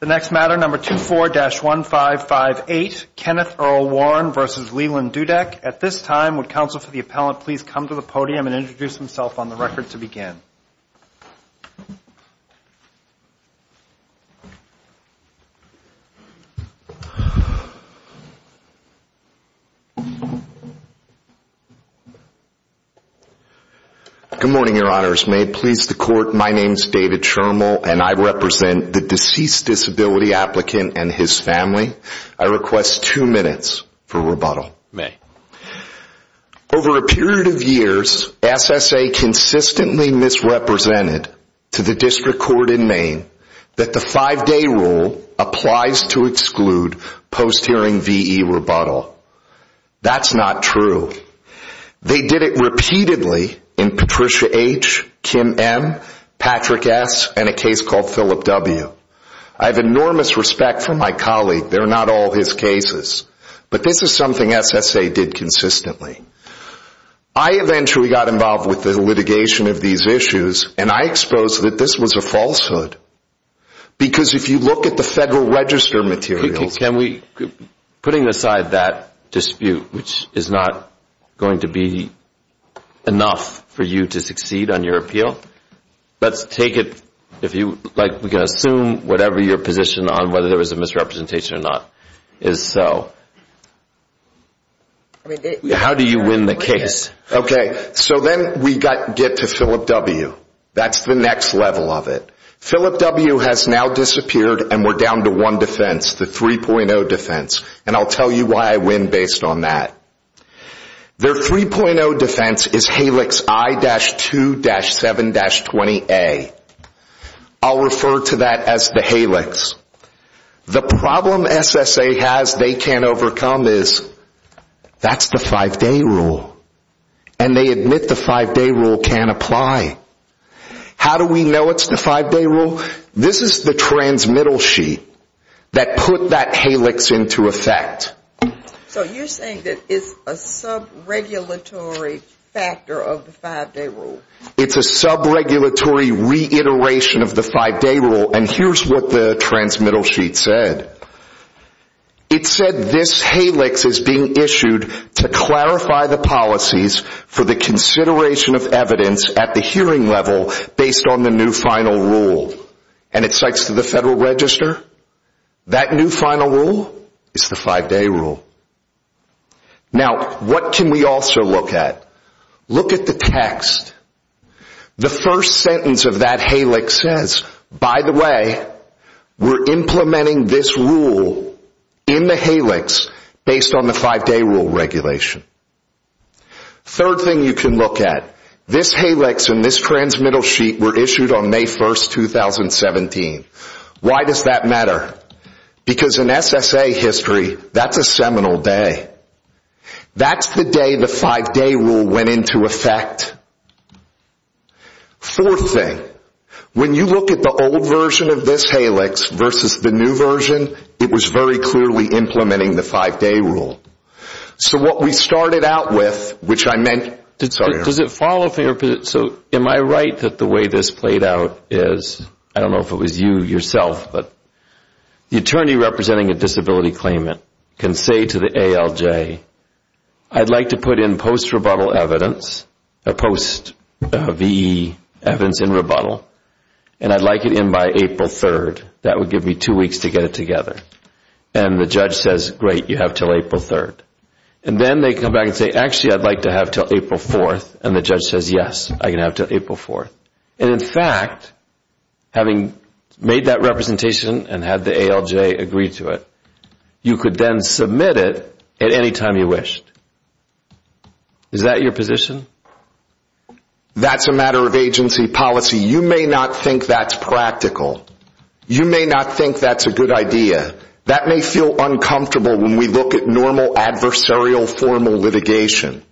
The next matter, number 24-1558, Kenneth Earl Warren v. Leland Dudek. At this time, would counsel for the appellant please come to the podium and introduce himself on the record to begin. Good morning, your honors. May it please the court, my name is David Chermel and I represent the deceased disability applicant and his family. I request two minutes for rebuttal. Over a period of years, SSA consistently misrepresented to the district court in Maine that the five-day rule applies to exclude post-hearing V.E. rebuttal. That's not true. They did it repeatedly in Patricia H., Kim M., Patrick S., and a case called Phillip W. I have enormous respect for my colleague. They're not all his cases. But this is something SSA did consistently. I eventually got involved with the litigation of these issues and I exposed that this was a falsehood. Because if you look at the Federal Register materials... Putting aside that dispute, which is not going to be enough for you to succeed on your appeal, let's take it, we can assume whatever your position on whether there was a misrepresentation or not is so. How do you win the case? Okay, so then we get to Phillip W. That's the next level of it. Phillip W. has now disappeared and we're down to one defense, the 3.0 defense. And I'll tell you why I win based on that. Their 3.0 defense is HALIX I-2-7-20A. I'll refer to that as the HALIX. The problem SSA has they can't overcome is that's the five-day rule. And they admit the five-day rule can't apply. How do we know it's the five-day rule? This is the transmittal sheet that put that HALIX into effect. So you're saying that it's a sub-regulatory factor of the five-day rule? It's a sub-regulatory reiteration of the five-day rule and here's what the transmittal sheet said. It said this HALIX is being issued to clarify the policies for the consideration of evidence at the hearing level based on the new final rule. And it cites the Federal Register. That new final rule is the five-day rule. Now, what can we also look at? Look at the text. The first sentence of that HALIX says, by the way, we're implementing this rule in the HALIX based on the five-day rule regulation. Third thing you can look at. This HALIX and this transmittal sheet were issued on May 1, 2017. Why does that matter? Because in SSA history, that's a seminal day. That's the day the five-day rule went into effect. Fourth thing. When you look at the old version of this HALIX versus the new version, it was very clearly implementing the five-day rule. So what we started out with, which I meant... Does it follow? So am I right that the way this played out is, I don't know if it was you yourself, but the attorney representing a disability claimant can say to the ALJ, I'd like to put in post-rebuttal evidence, post-VE evidence in rebuttal, and I'd like it in by April 3rd. That would give me two weeks to get it together. And the judge says, great, you have until April 3rd. And then they come back and say, actually, I'd like to have until April 4th. And the judge says, yes, I can have until April 4th. And in fact, having made that representation and had the ALJ agree to it, you could then submit it at any time you wished. Is that your position? That's a matter of agency policy. You may not think that's practical. You may not think that's a good idea. That may feel uncomfortable when we look at normal adversarial formal litigation.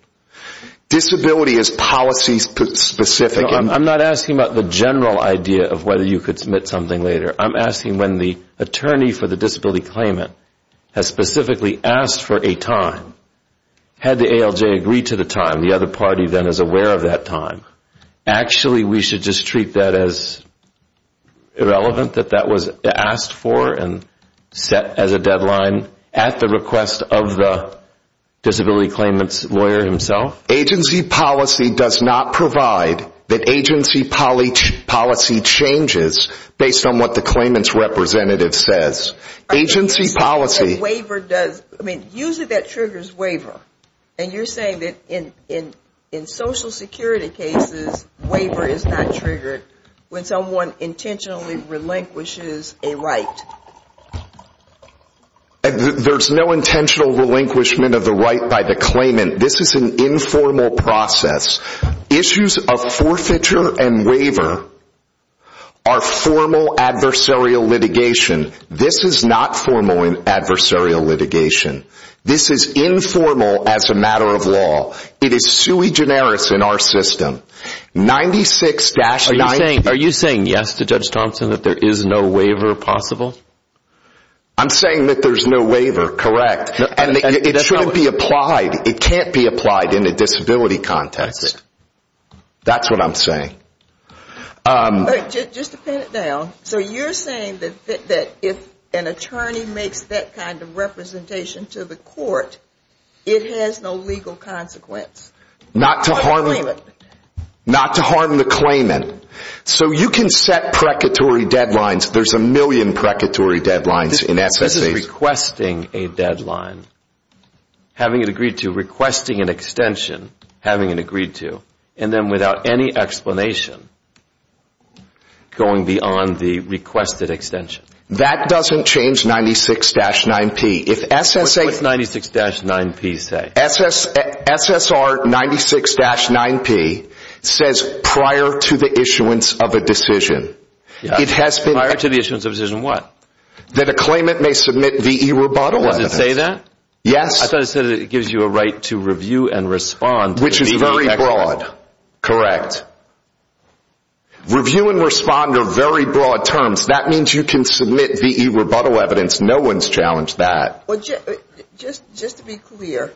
Disability is policy-specific. I'm not asking about the general idea of whether you could submit something later. I'm asking when the attorney for the disability claimant has specifically asked for a time, had the ALJ agreed to the time, the other party then is aware of that time, actually we should just treat that as irrelevant that that was asked for and set as a deadline at the request of the disability claimant's lawyer himself? Agency policy does not provide that agency policy changes based on what the claimant's representative says. I mean, usually that triggers waiver. And you're saying that in Social Security cases, waiver is not triggered when someone intentionally relinquishes a right. There's no intentional relinquishment of the right by the claimant. This is an informal process. Issues of forfeiture and waiver are formal adversarial litigation. This is not formal adversarial litigation. This is informal as a matter of law. It is sui generis in our system. 96-90. Are you saying yes to Judge Thompson that there is no waiver possible? I'm saying that there's no waiver, correct. And it should be applied. It can't be applied in a disability context. That's what I'm saying. Just to pin it down, so you're saying that if an attorney makes that kind of representation to the court, it has no legal consequence? Not to harm the claimant. So you can set precatory deadlines. There's a million precatory deadlines in SSAs. Requesting a deadline, having it agreed to. Requesting an extension, having it agreed to. And then without any explanation, going beyond the requested extension. That doesn't change 96-9P. What does 96-9P say? SSR 96-9P says prior to the issuance of a decision. Prior to the issuance of a decision, what? That a claimant may submit VE rebuttal evidence. Does it say that? Yes. I thought it said it gives you a right to review and respond. Which is very broad. Review and respond are very broad terms. That means you can submit VE rebuttal evidence. No one's challenged that. Just to be clear,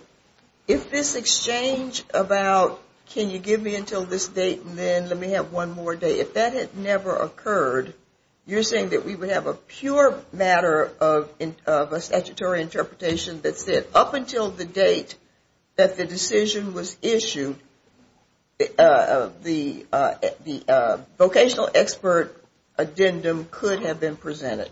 if this exchange about can you give me until this date and then let me have one more day, if that had never occurred, you're saying that we would have a pure matter of a statutory interpretation that said up until the date that the decision was issued, the vocational expert addendum could have been presented.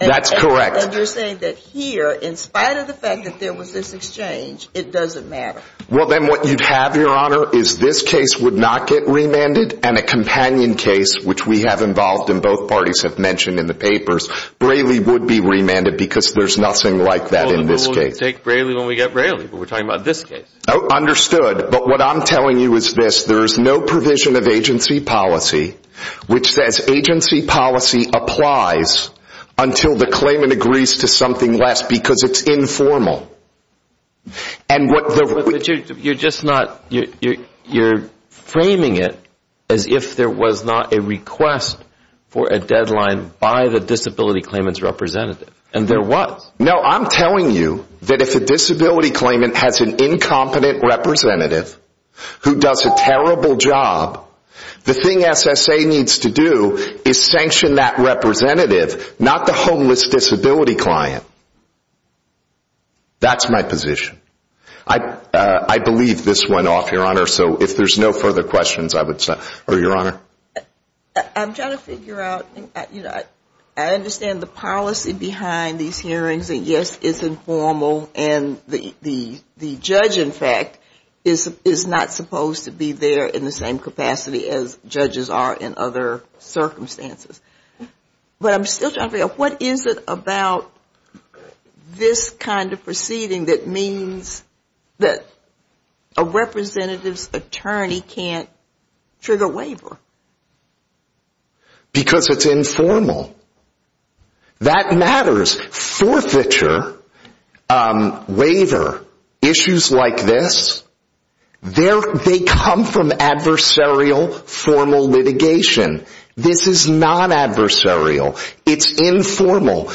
That's correct. And you're saying that here, in spite of the fact that there was this exchange, it doesn't matter. Well, then what you'd have, Your Honor, is this case would not get remanded and a companion case, which we have involved and both parties have mentioned in the papers, Braley would be remanded because there's nothing like that in this case. We'll take Braley when we get Braley, but we're talking about this case. Understood. But what I'm telling you is this. There is no provision of agency policy which says agency policy applies until the claimant agrees to something less because it's informal. But you're framing it as if there was not a request for a deadline by the disability claimant's representative, and there was. No, I'm telling you that if a disability claimant has an incompetent representative who does a terrible job, the thing SSA needs to do is sanction that representative, not the homeless disability client. That's my position. I believe this went off, Your Honor, so if there's no further questions, I would say. Your Honor? I'm trying to figure out. I understand the policy behind these hearings, and yes, it's informal, and the judge, in fact, is not supposed to be there in the same capacity as judges are in other circumstances. But I'm still trying to figure out what is it about this kind of proceeding that means that a representative's attorney can't trigger waiver? Because it's informal. That matters. Forfeiture, waiver, issues like this, they come from adversarial formal litigation. This is non-adversarial. It's informal.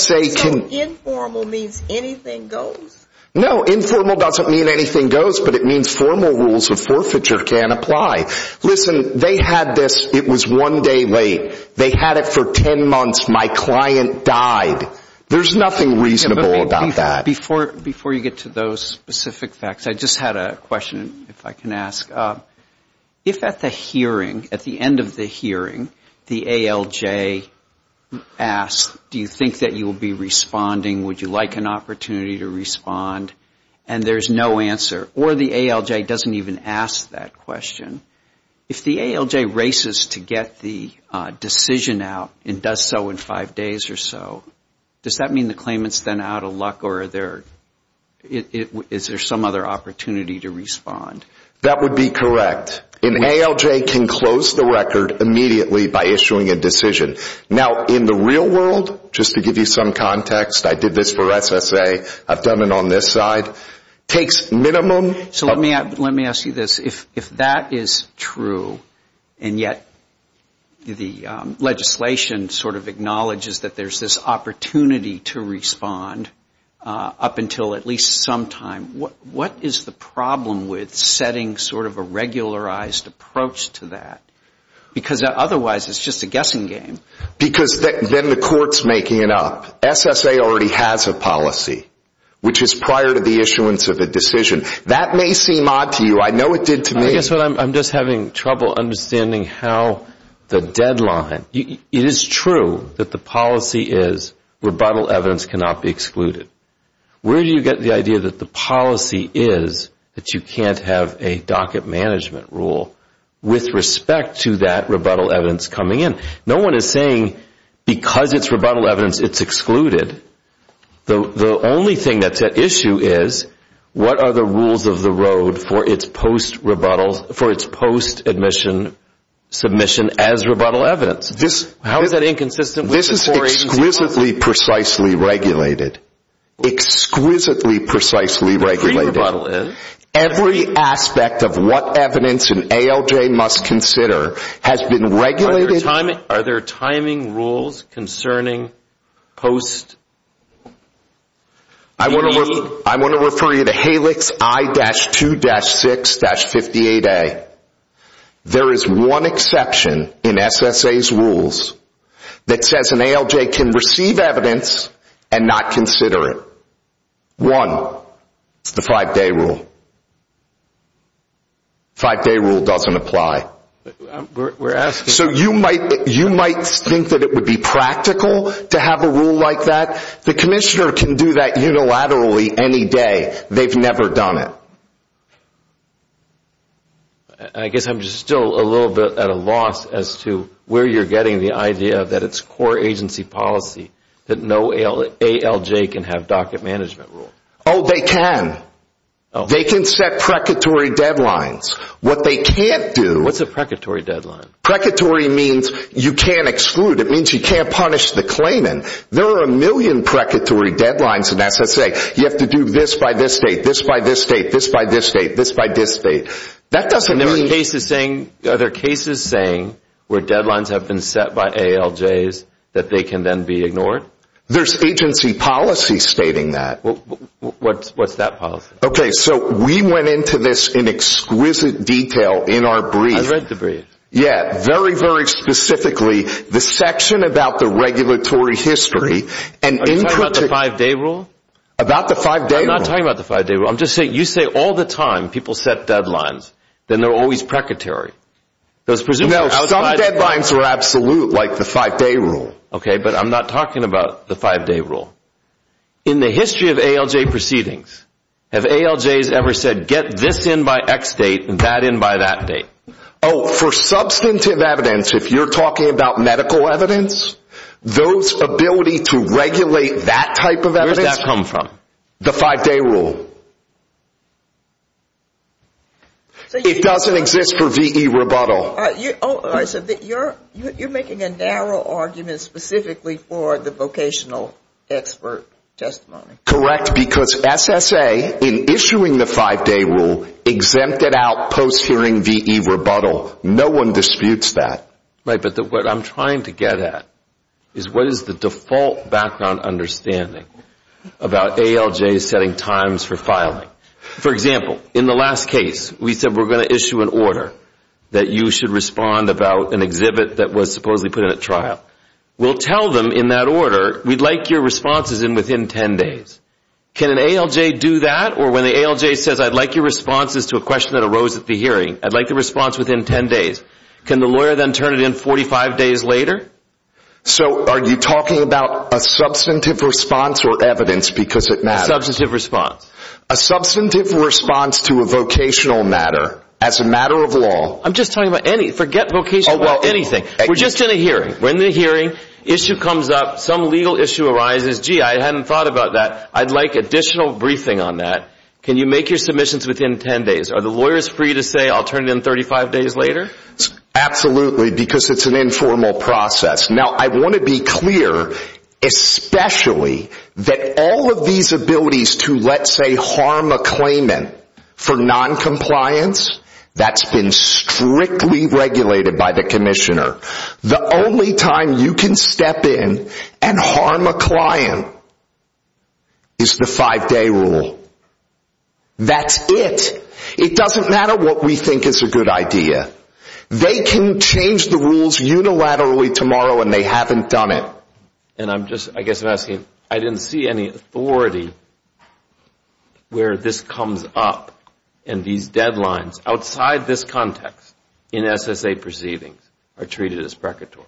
So informal means anything goes? No, informal doesn't mean anything goes, but it means formal rules of forfeiture can apply. Listen, they had this. It was one day late. They had it for ten months. My client died. There's nothing reasonable about that. Before you get to those specific facts, I just had a question, if I can ask. If at the hearing, at the end of the hearing, the ALJ asks, do you think that you will be responding, would you like an opportunity to respond, and there's no answer, or the ALJ doesn't even ask that question, if the ALJ races to get the decision out and does so in five days or so, does that mean the claimant's then out of luck, or is there some other opportunity to respond? That would be correct. An ALJ can close the record immediately by issuing a decision. Now, in the real world, just to give you some context, I did this for SSA, I've done it on this side, takes minimum. So let me ask you this. If that is true, and yet the legislation sort of acknowledges that there's this opportunity to respond up until at least some time, what is the problem with setting sort of a regularized approach to that? Because otherwise it's just a guessing game. Because then the court's making it up. SSA already has a policy, which is prior to the issuance of a decision. That may seem odd to you. I know it did to me. I guess what I'm just having trouble understanding how the deadline, it is true that the policy is rebuttal evidence cannot be excluded. Where do you get the idea that the policy is that you can't have a docket management rule with respect to that rebuttal evidence coming in? No one is saying because it's rebuttal evidence it's excluded. The only thing that's at issue is what are the rules of the road for its post-admission submission as rebuttal evidence? How is that inconsistent with the 480 rules? This is exquisitely precisely regulated. Exquisitely precisely regulated. The pre-rebuttal is? Every aspect of what evidence an ALJ must consider has been regulated. Are there timing rules concerning post-B? I want to refer you to HALIX I-2-6-58A. There is one exception in SSA's rules that says an ALJ can receive evidence and not consider it. One, it's the five-day rule. Five-day rule doesn't apply. So you might think that it would be practical to have a rule like that. The commissioner can do that unilaterally any day. They've never done it. I guess I'm still a little bit at a loss as to where you're getting the idea that it's core agency policy that no ALJ can have docket management rules. Oh, they can. They can set precatory deadlines. What they can't do What's a precatory deadline? Precatory means you can't exclude. It means you can't punish the claimant. There are a million precatory deadlines in SSA. You have to do this by this date, this by this date, this by this date, this by this date. That doesn't mean Are there cases saying where deadlines have been set by ALJs that they can then be ignored? There's agency policy stating that. What's that policy? Okay, so we went into this in exquisite detail in our brief. I've read the brief. Yeah, very, very specifically, the section about the regulatory history Are you talking about the five-day rule? About the five-day rule? I'm not talking about the five-day rule. I'm just saying, you say all the time people set deadlines, then they're always precatory. No, some deadlines are absolute, like the five-day rule. Okay, but I'm not talking about the five-day rule. In the history of ALJ proceedings, have ALJs ever said get this in by X date and that in by that date? Oh, for substantive evidence, if you're talking about medical evidence, those ability to regulate that type of evidence Where does that come from? The five-day rule. It doesn't exist for VE rebuttal. You're making a narrow argument specifically for the vocational expert testimony. Correct, because SSA, in issuing the five-day rule, exempted out post-hearing VE rebuttal. No one disputes that. Right, but what I'm trying to get at is what is the default background understanding about ALJs setting times for filing? For example, in the last case, we said we're going to issue an order that you should respond about an exhibit that was supposedly put in at trial. We'll tell them in that order, we'd like your responses in within 10 days. Can an ALJ do that? Or when the ALJ says, I'd like your responses to a question that arose at the hearing, I'd like the response within 10 days. Can the lawyer then turn it in 45 days later? So are you talking about a substantive response or evidence because it matters? Substantive response. A substantive response to a vocational matter, as a matter of law. I'm just talking about any, forget vocational, anything. We're just in a hearing. We're in the hearing, issue comes up, some legal issue arises, gee, I hadn't thought about that, I'd like additional briefing on that. Can you make your submissions within 10 days? Are the lawyers free to say, I'll turn it in 35 days later? Absolutely, because it's an informal process. Now, I want to be clear, especially that all of these abilities to, let's say, harm a claimant for noncompliance, that's been strictly regulated by the commissioner. The only time you can step in and harm a client is the five-day rule. That's it. It doesn't matter what we think is a good idea. They can change the rules unilaterally tomorrow when they haven't done it. And I'm just, I guess I'm asking, I didn't see any authority where this comes up and these deadlines outside this context in SSA proceedings are treated as precatory.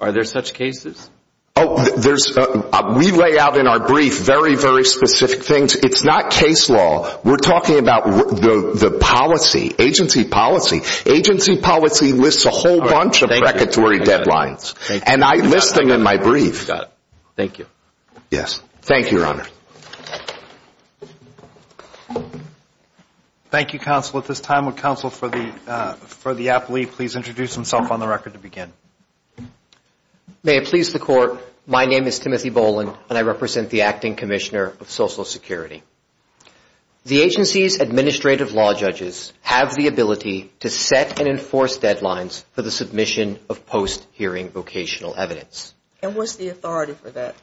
Are there such cases? We lay out in our brief very, very specific things. It's not case law. We're talking about the policy, agency policy. Agency policy lists a whole bunch of precatory deadlines. And I list them in my brief. Got it. Thank you. Yes. Thank you, Your Honor. Thank you, counsel. At this time, would counsel for the appellee please introduce himself on the record to begin? May it please the Court, my name is Timothy Boland and I represent the Acting Commissioner of Social Security. The agency's administrative law judges have the ability to set and enforce deadlines for the submission of post-hearing vocational evidence. And what's the authority for that?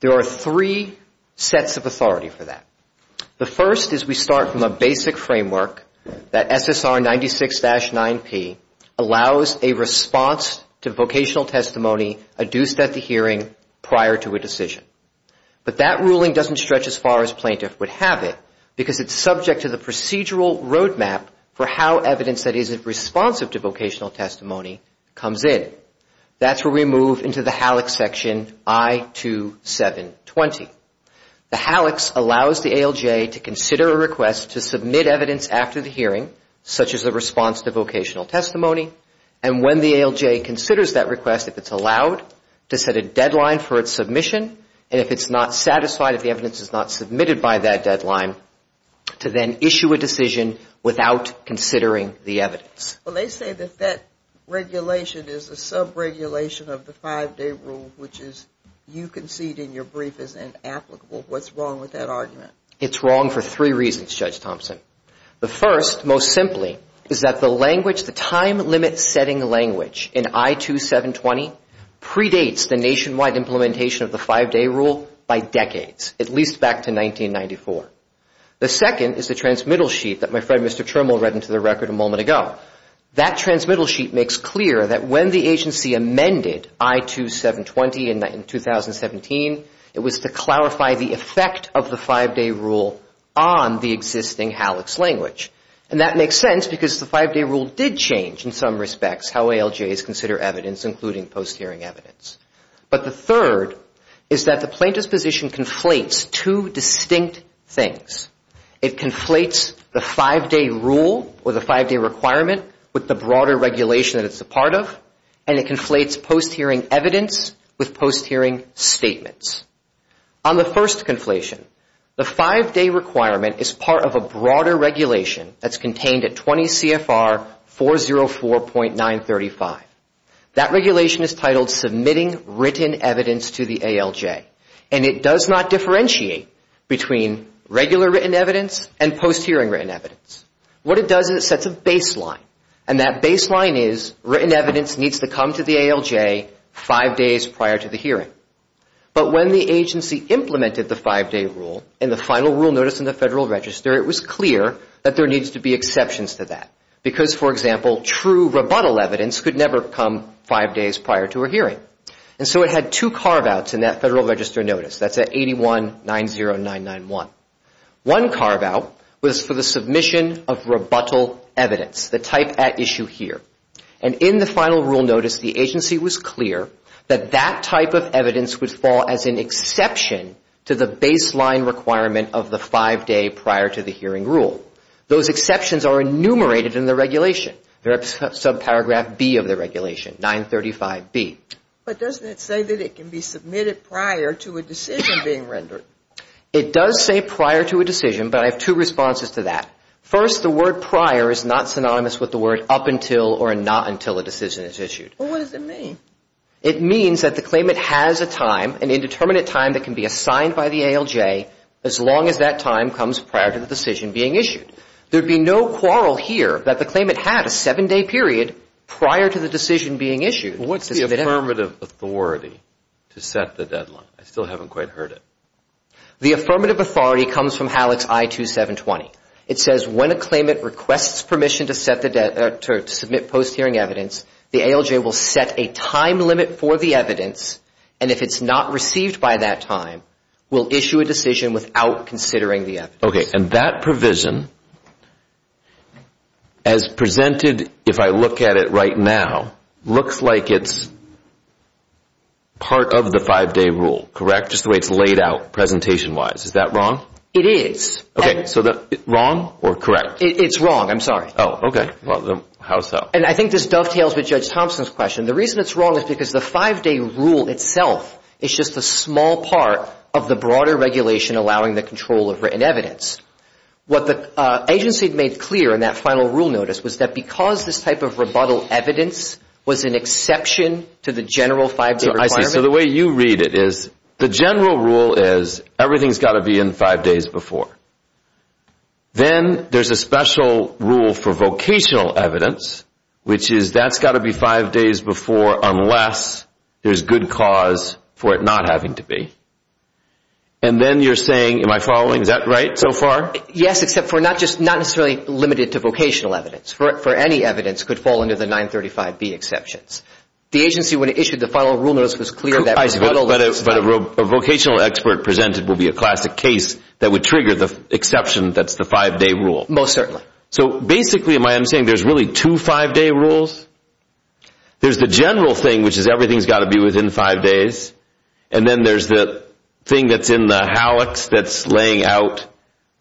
There are three sets of authority for that. The first is we start from a basic framework that SSR 96-9P allows a response to vocational testimony adduced at the hearing prior to a decision. But that ruling doesn't stretch as far as plaintiff would have it because it's subject to the procedural roadmap for how evidence that isn't responsive to vocational testimony comes in. That's where we move into the HALEX section I2720. The HALEX allows the ALJ to consider a request to submit evidence after the hearing, such as a response to vocational testimony. And when the ALJ considers that request, if it's allowed, to set a deadline for its submission. And if it's not satisfied, if the evidence is not submitted by that deadline, to then issue a decision without considering the evidence. Well, they say that that regulation is a sub-regulation of the five-day rule, which is you concede in your brief is inapplicable. What's wrong with that argument? It's wrong for three reasons, Judge Thompson. The first, most simply, is that the language, the time limit setting language in I2720 predates the nationwide implementation of the five-day rule by decades, at least back to 1994. The second is the transmittal sheet that my friend Mr. Termal read into the record a moment ago. That transmittal sheet makes clear that when the agency amended I2720 in 2017, it was to clarify the effect of the five-day rule on the existing HALEX language. And that makes sense because the five-day rule did change, in some respects, how ALJs consider evidence, including post-hearing evidence. But the third is that the plaintiff's position conflates two distinct things. It conflates the five-day rule or the five-day requirement with the broader regulation that it's a part of, and it conflates post-hearing evidence with post-hearing statements. On the first conflation, the five-day requirement is part of a broader regulation that's contained at 20 CFR 404.935. That regulation is titled Submitting Written Evidence to the ALJ. And it does not differentiate between regular written evidence and post-hearing written evidence. What it does is it sets a baseline. And that baseline is written evidence needs to come to the ALJ five days prior to the hearing. But when the agency implemented the five-day rule in the final rule notice in the Federal Register, it was clear that there needs to be exceptions to that. Because, for example, true rebuttal evidence could never come five days prior to a hearing. And so it had two carve-outs in that Federal Register notice. That's at 8190991. One carve-out was for the submission of rebuttal evidence, the type at issue here. And in the final rule notice, the agency was clear that that type of evidence would fall as an exception to the baseline requirement of the five-day prior to the hearing rule. Those exceptions are enumerated in the regulation. They're at subparagraph B of the regulation, 935B. But doesn't it say that it can be submitted prior to a decision being rendered? It does say prior to a decision, but I have two responses to that. First, the word prior is not synonymous with the word up until or not until a decision is issued. Well, what does it mean? It means that the claimant has a time, an indeterminate time that can be assigned by the ALJ, as long as that time comes prior to the decision being issued. There would be no quarrel here that the claimant had a seven-day period prior to the decision being issued. What's the affirmative authority to set the deadline? I still haven't quite heard it. The affirmative authority comes from HALEX I-2720. It says, when a claimant requests permission to submit post-hearing evidence, the ALJ will set a time limit for the evidence, and if it's not received by that time, will issue a decision without considering the evidence. Okay, and that provision, as presented, if I look at it right now, looks like it's part of the five-day rule, correct? Just the way it's laid out presentation-wise. Is that wrong? It is. Okay, so wrong or correct? It's wrong, I'm sorry. Oh, okay. Well, then how so? And I think this dovetails with Judge Thompson's question. The reason it's wrong is because the five-day rule itself is just a small part of the broader regulation allowing the control of written evidence. What the agency made clear in that final rule notice was that because this type of rebuttal evidence was an exception to the general five-day requirement. So the way you read it is the general rule is everything's got to be in five days before. Then there's a special rule for vocational evidence, which is that's got to be five days before unless there's good cause for it not having to be. And then you're saying, am I following? Is that right so far? Yes, except for not necessarily limited to vocational evidence. For any evidence, it could fall under the 935B exceptions. The agency, when it issued the final rule notice, was clear that rebuttal evidence... But a vocational expert presented will be a classic case that would trigger the exception that's the five-day rule. Most certainly. So basically, am I saying there's really two five-day rules? There's the general thing, which is everything's got to be within five days. And then there's the thing that's in the hallux that's laying out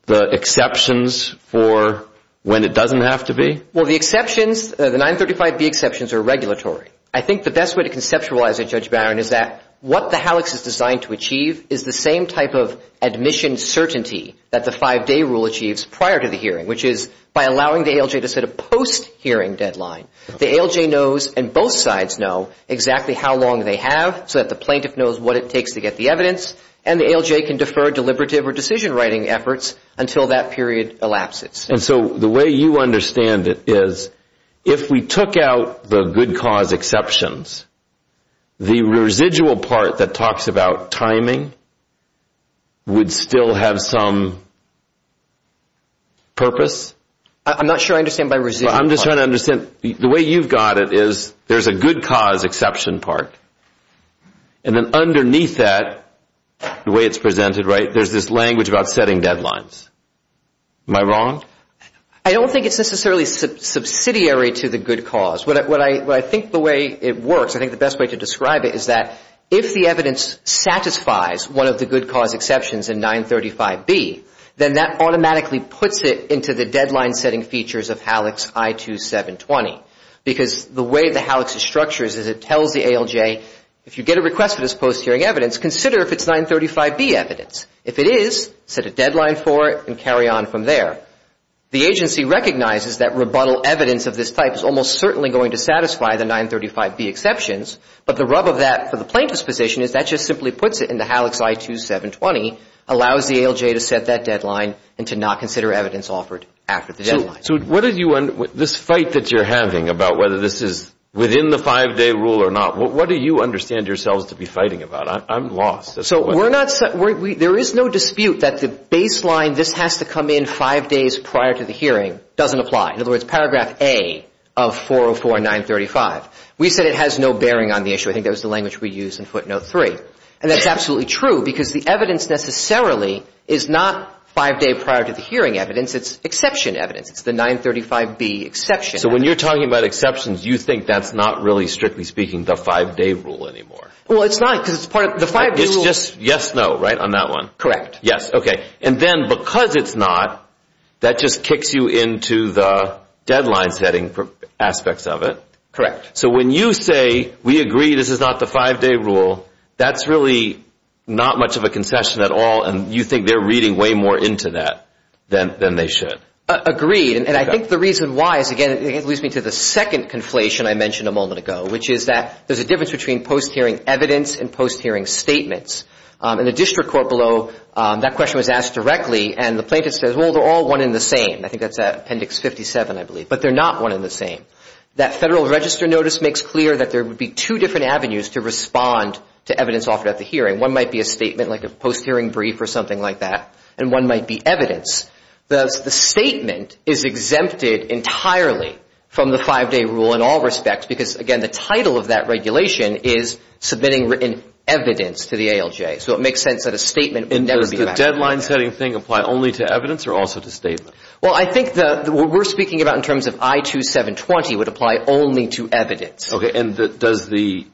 the exceptions for when it doesn't have to be? Well, the exceptions, the 935B exceptions are regulatory. I think the best way to conceptualize it, Judge Barron, is that what the hallux is designed to achieve is the same type of admission certainty that the five-day rule achieves prior to the hearing, which is by allowing the ALJ to set a post-hearing deadline. The ALJ knows and both sides know exactly how long they have so that the plaintiff knows what it takes to get the evidence. And the ALJ can defer deliberative or decision-writing efforts until that period elapses. And so the way you understand it is if we took out the good cause exceptions, the residual part that talks about timing would still have some purpose? I'm not sure I understand by residual. I'm just trying to understand. The way you've got it is there's a good cause exception part. And then underneath that, the way it's presented, right, there's this language about setting deadlines. Am I wrong? I don't think it's necessarily subsidiary to the good cause. What I think the way it works, I think the best way to describe it is that if the evidence satisfies one of the good cause exceptions in 935B, then that automatically puts it into the deadline-setting features of hallux I2720. Because the way the hallux is structured is it tells the ALJ, if you get a request for this post-hearing evidence, consider if it's 935B evidence. If it is, set a deadline for it and carry on from there. The agency recognizes that rebuttal evidence of this type is almost certainly going to satisfy the 935B exceptions, but the rub of that for the plaintiff's position is that just simply puts it in the hallux I2720, allows the ALJ to set that deadline and to not consider evidence offered after the deadline. So this fight that you're having about whether this is within the five-day rule or not, what do you understand yourselves to be fighting about? I'm lost. So there is no dispute that the baseline, this has to come in five days prior to the hearing, doesn't apply. In other words, paragraph A of 404 and 935, we said it has no bearing on the issue. I think that was the language we used in footnote three. And that's absolutely true because the evidence necessarily is not five days prior to the hearing evidence. It's exception evidence. It's the 935B exception. So when you're talking about exceptions, you think that's not really, strictly speaking, the five-day rule anymore? Well, it's not because it's part of the five-day rule. It's just yes, no, right, on that one? Yes. Okay. And then because it's not, that just kicks you into the deadline setting aspects of it? Correct. So when you say we agree this is not the five-day rule, that's really not much of a concession at all, and you think they're reading way more into that than they should? Agreed. And I think the reason why is, again, it leads me to the second conflation I mentioned a moment ago, which is that there's a difference between post-hearing evidence and post-hearing statements. In the district court below, that question was asked directly, and the plaintiff says, well, they're all one in the same. I think that's Appendix 57, I believe. But they're not one in the same. That Federal Register Notice makes clear that there would be two different avenues to respond to evidence offered at the hearing. One might be a statement like a post-hearing brief or something like that, and one might be evidence. The statement is exempted entirely from the five-day rule in all respects because, again, the title of that regulation is submitting written evidence to the ALJ. So it makes sense that a statement would never be required. Does the deadline setting thing apply only to evidence or also to statement? Well, I think what we're speaking about in terms of I-2720 would apply only to evidence. Okay. And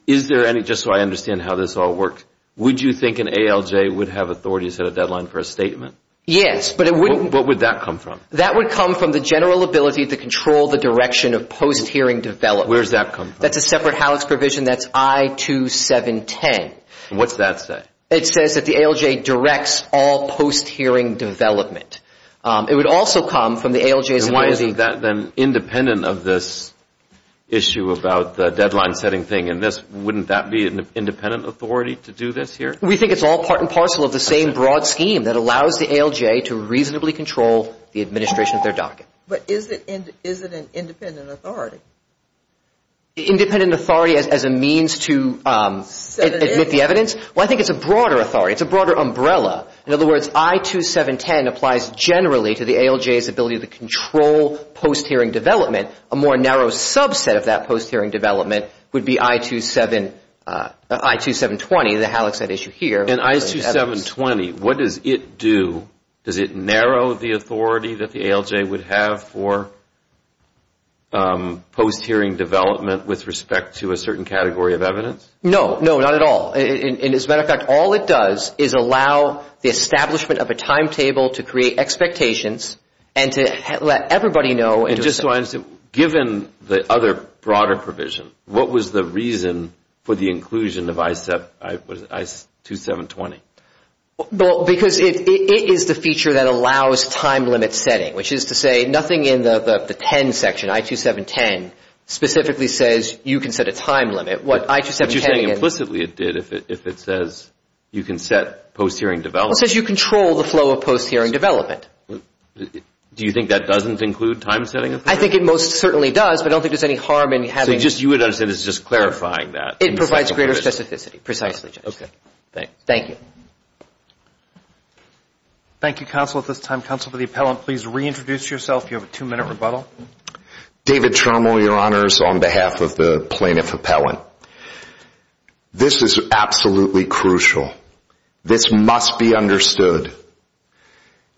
is there any, just so I understand how this all works, would you think an ALJ would have authority to set a deadline for a statement? Yes, but it wouldn't. What would that come from? That would come from the general ability to control the direction of post-hearing development. Where does that come from? That's a separate HALEX provision. That's I-2710. And what does that say? It says that the ALJ directs all post-hearing development. It would also come from the ALJ's ability. And why isn't that then independent of this issue about the deadline setting thing? And wouldn't that be an independent authority to do this here? We think it's all part and parcel of the same broad scheme that allows the ALJ to reasonably control the administration of their docket. But is it an independent authority? Independent authority as a means to admit the evidence? Well, I think it's a broader authority. It's a broader umbrella. In other words, I-2710 applies generally to the ALJ's ability to control post-hearing development. A more narrow subset of that post-hearing development would be I-2720, the HALEX I'd issue here. And I-2720, what does it do? Does it narrow the authority that the ALJ would have for post-hearing development with respect to a certain category of evidence? No, no, not at all. As a matter of fact, all it does is allow the establishment of a timetable to create expectations and to let everybody know. And just so I understand, given the other broader provision, what was the reason for the inclusion of I-2720? Well, because it is the feature that allows time limit setting, which is to say nothing in the 10 section, I-2710, specifically says you can set a time limit. What you're saying implicitly it did if it says you can set post-hearing development. It says you control the flow of post-hearing development. Do you think that doesn't include time setting authority? I think it most certainly does, but I don't think there's any harm in having it. So you would understand it's just clarifying that. It provides greater specificity, precisely, Judge. Okay, thanks. Thank you. Thank you, counsel, at this time. Counsel to the appellant, please reintroduce yourself. You have a two-minute rebuttal. David Trommel, Your Honors, on behalf of the plaintiff appellant. This is absolutely crucial. This must be understood.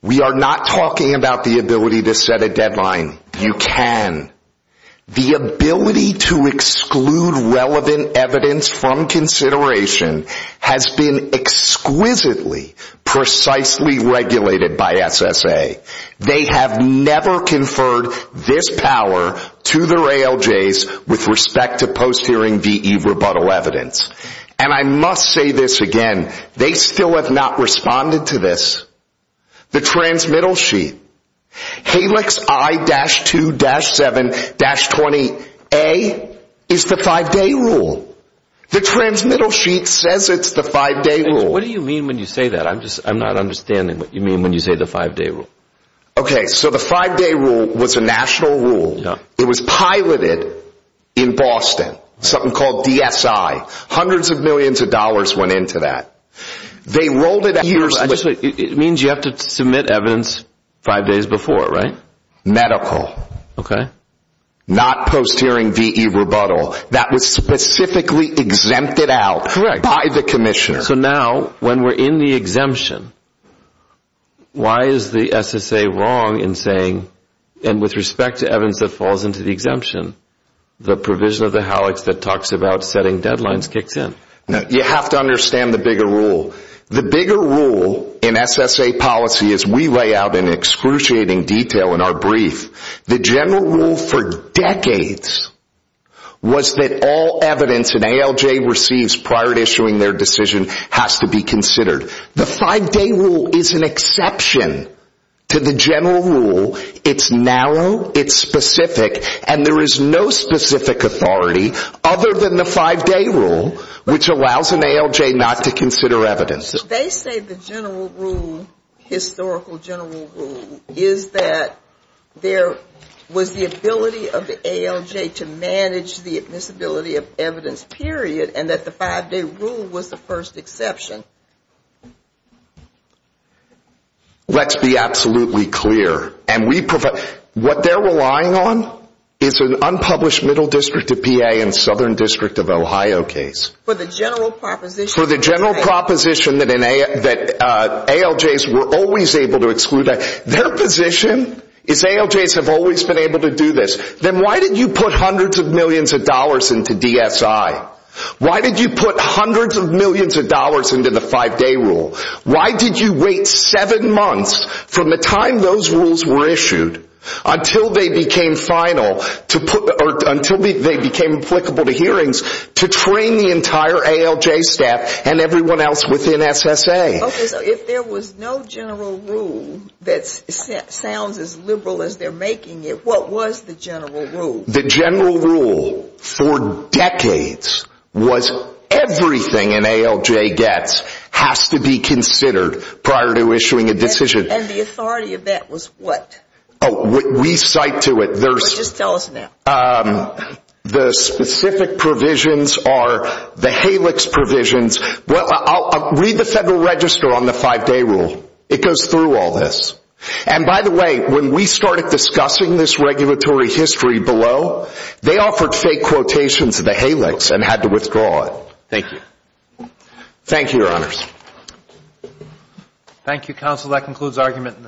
We are not talking about the ability to set a deadline. You can. The ability to exclude relevant evidence from consideration has been exquisitely, precisely regulated by SSA. They have never conferred this power to their ALJs with respect to post-hearing VE rebuttal evidence. And I must say this again. They still have not responded to this. The transmittal sheet, HALIX I-2-7-20A, is the five-day rule. The transmittal sheet says it's the five-day rule. What do you mean when you say that? I'm not understanding what you mean when you say the five-day rule. Okay, so the five-day rule was a national rule. It was piloted in Boston, something called DSI. Hundreds of millions of dollars went into that. It means you have to submit evidence five days before, right? Okay. Not post-hearing VE rebuttal. That was specifically exempted out by the commissioner. So now, when we're in the exemption, why is the SSA wrong in saying, and with respect to evidence that falls into the exemption, the provision of the HALIX that talks about setting deadlines kicks in? You have to understand the bigger rule. The bigger rule in SSA policy, as we lay out in excruciating detail in our brief, the general rule for decades was that all evidence an ALJ receives prior to issuing their decision has to be considered. The five-day rule is an exception to the general rule. It's narrow, it's specific, and there is no specific authority other than the five-day rule, which allows an ALJ not to consider evidence. They say the general rule, historical general rule, is that there was the ability of the ALJ to manage the admissibility of evidence, period, and that the five-day rule was the first exception. Let's be absolutely clear. What they're relying on is an unpublished Middle District of PA and Southern District of Ohio case. For the general proposition that ALJs were always able to exclude. Their position is ALJs have always been able to do this. Then why did you put hundreds of millions of dollars into DSI? Why did you put hundreds of millions of dollars into the five-day rule? Why did you wait seven months from the time those rules were issued until they became final, until they became applicable to hearings, to train the entire ALJ staff and everyone else within SSA? Okay, so if there was no general rule that sounds as liberal as they're making it, what was the general rule? The general rule for decades was everything an ALJ gets has to be considered prior to issuing a decision. And the authority of that was what? We cite to it. Just tell us now. The specific provisions are the HALICS provisions. Read the Federal Register on the five-day rule. It goes through all this. And, by the way, when we started discussing this regulatory history below, they offered fake quotations of the HALICS and had to withdraw it. Thank you. Thank you, Your Honors. Thank you, Counsel. That concludes argument in this case.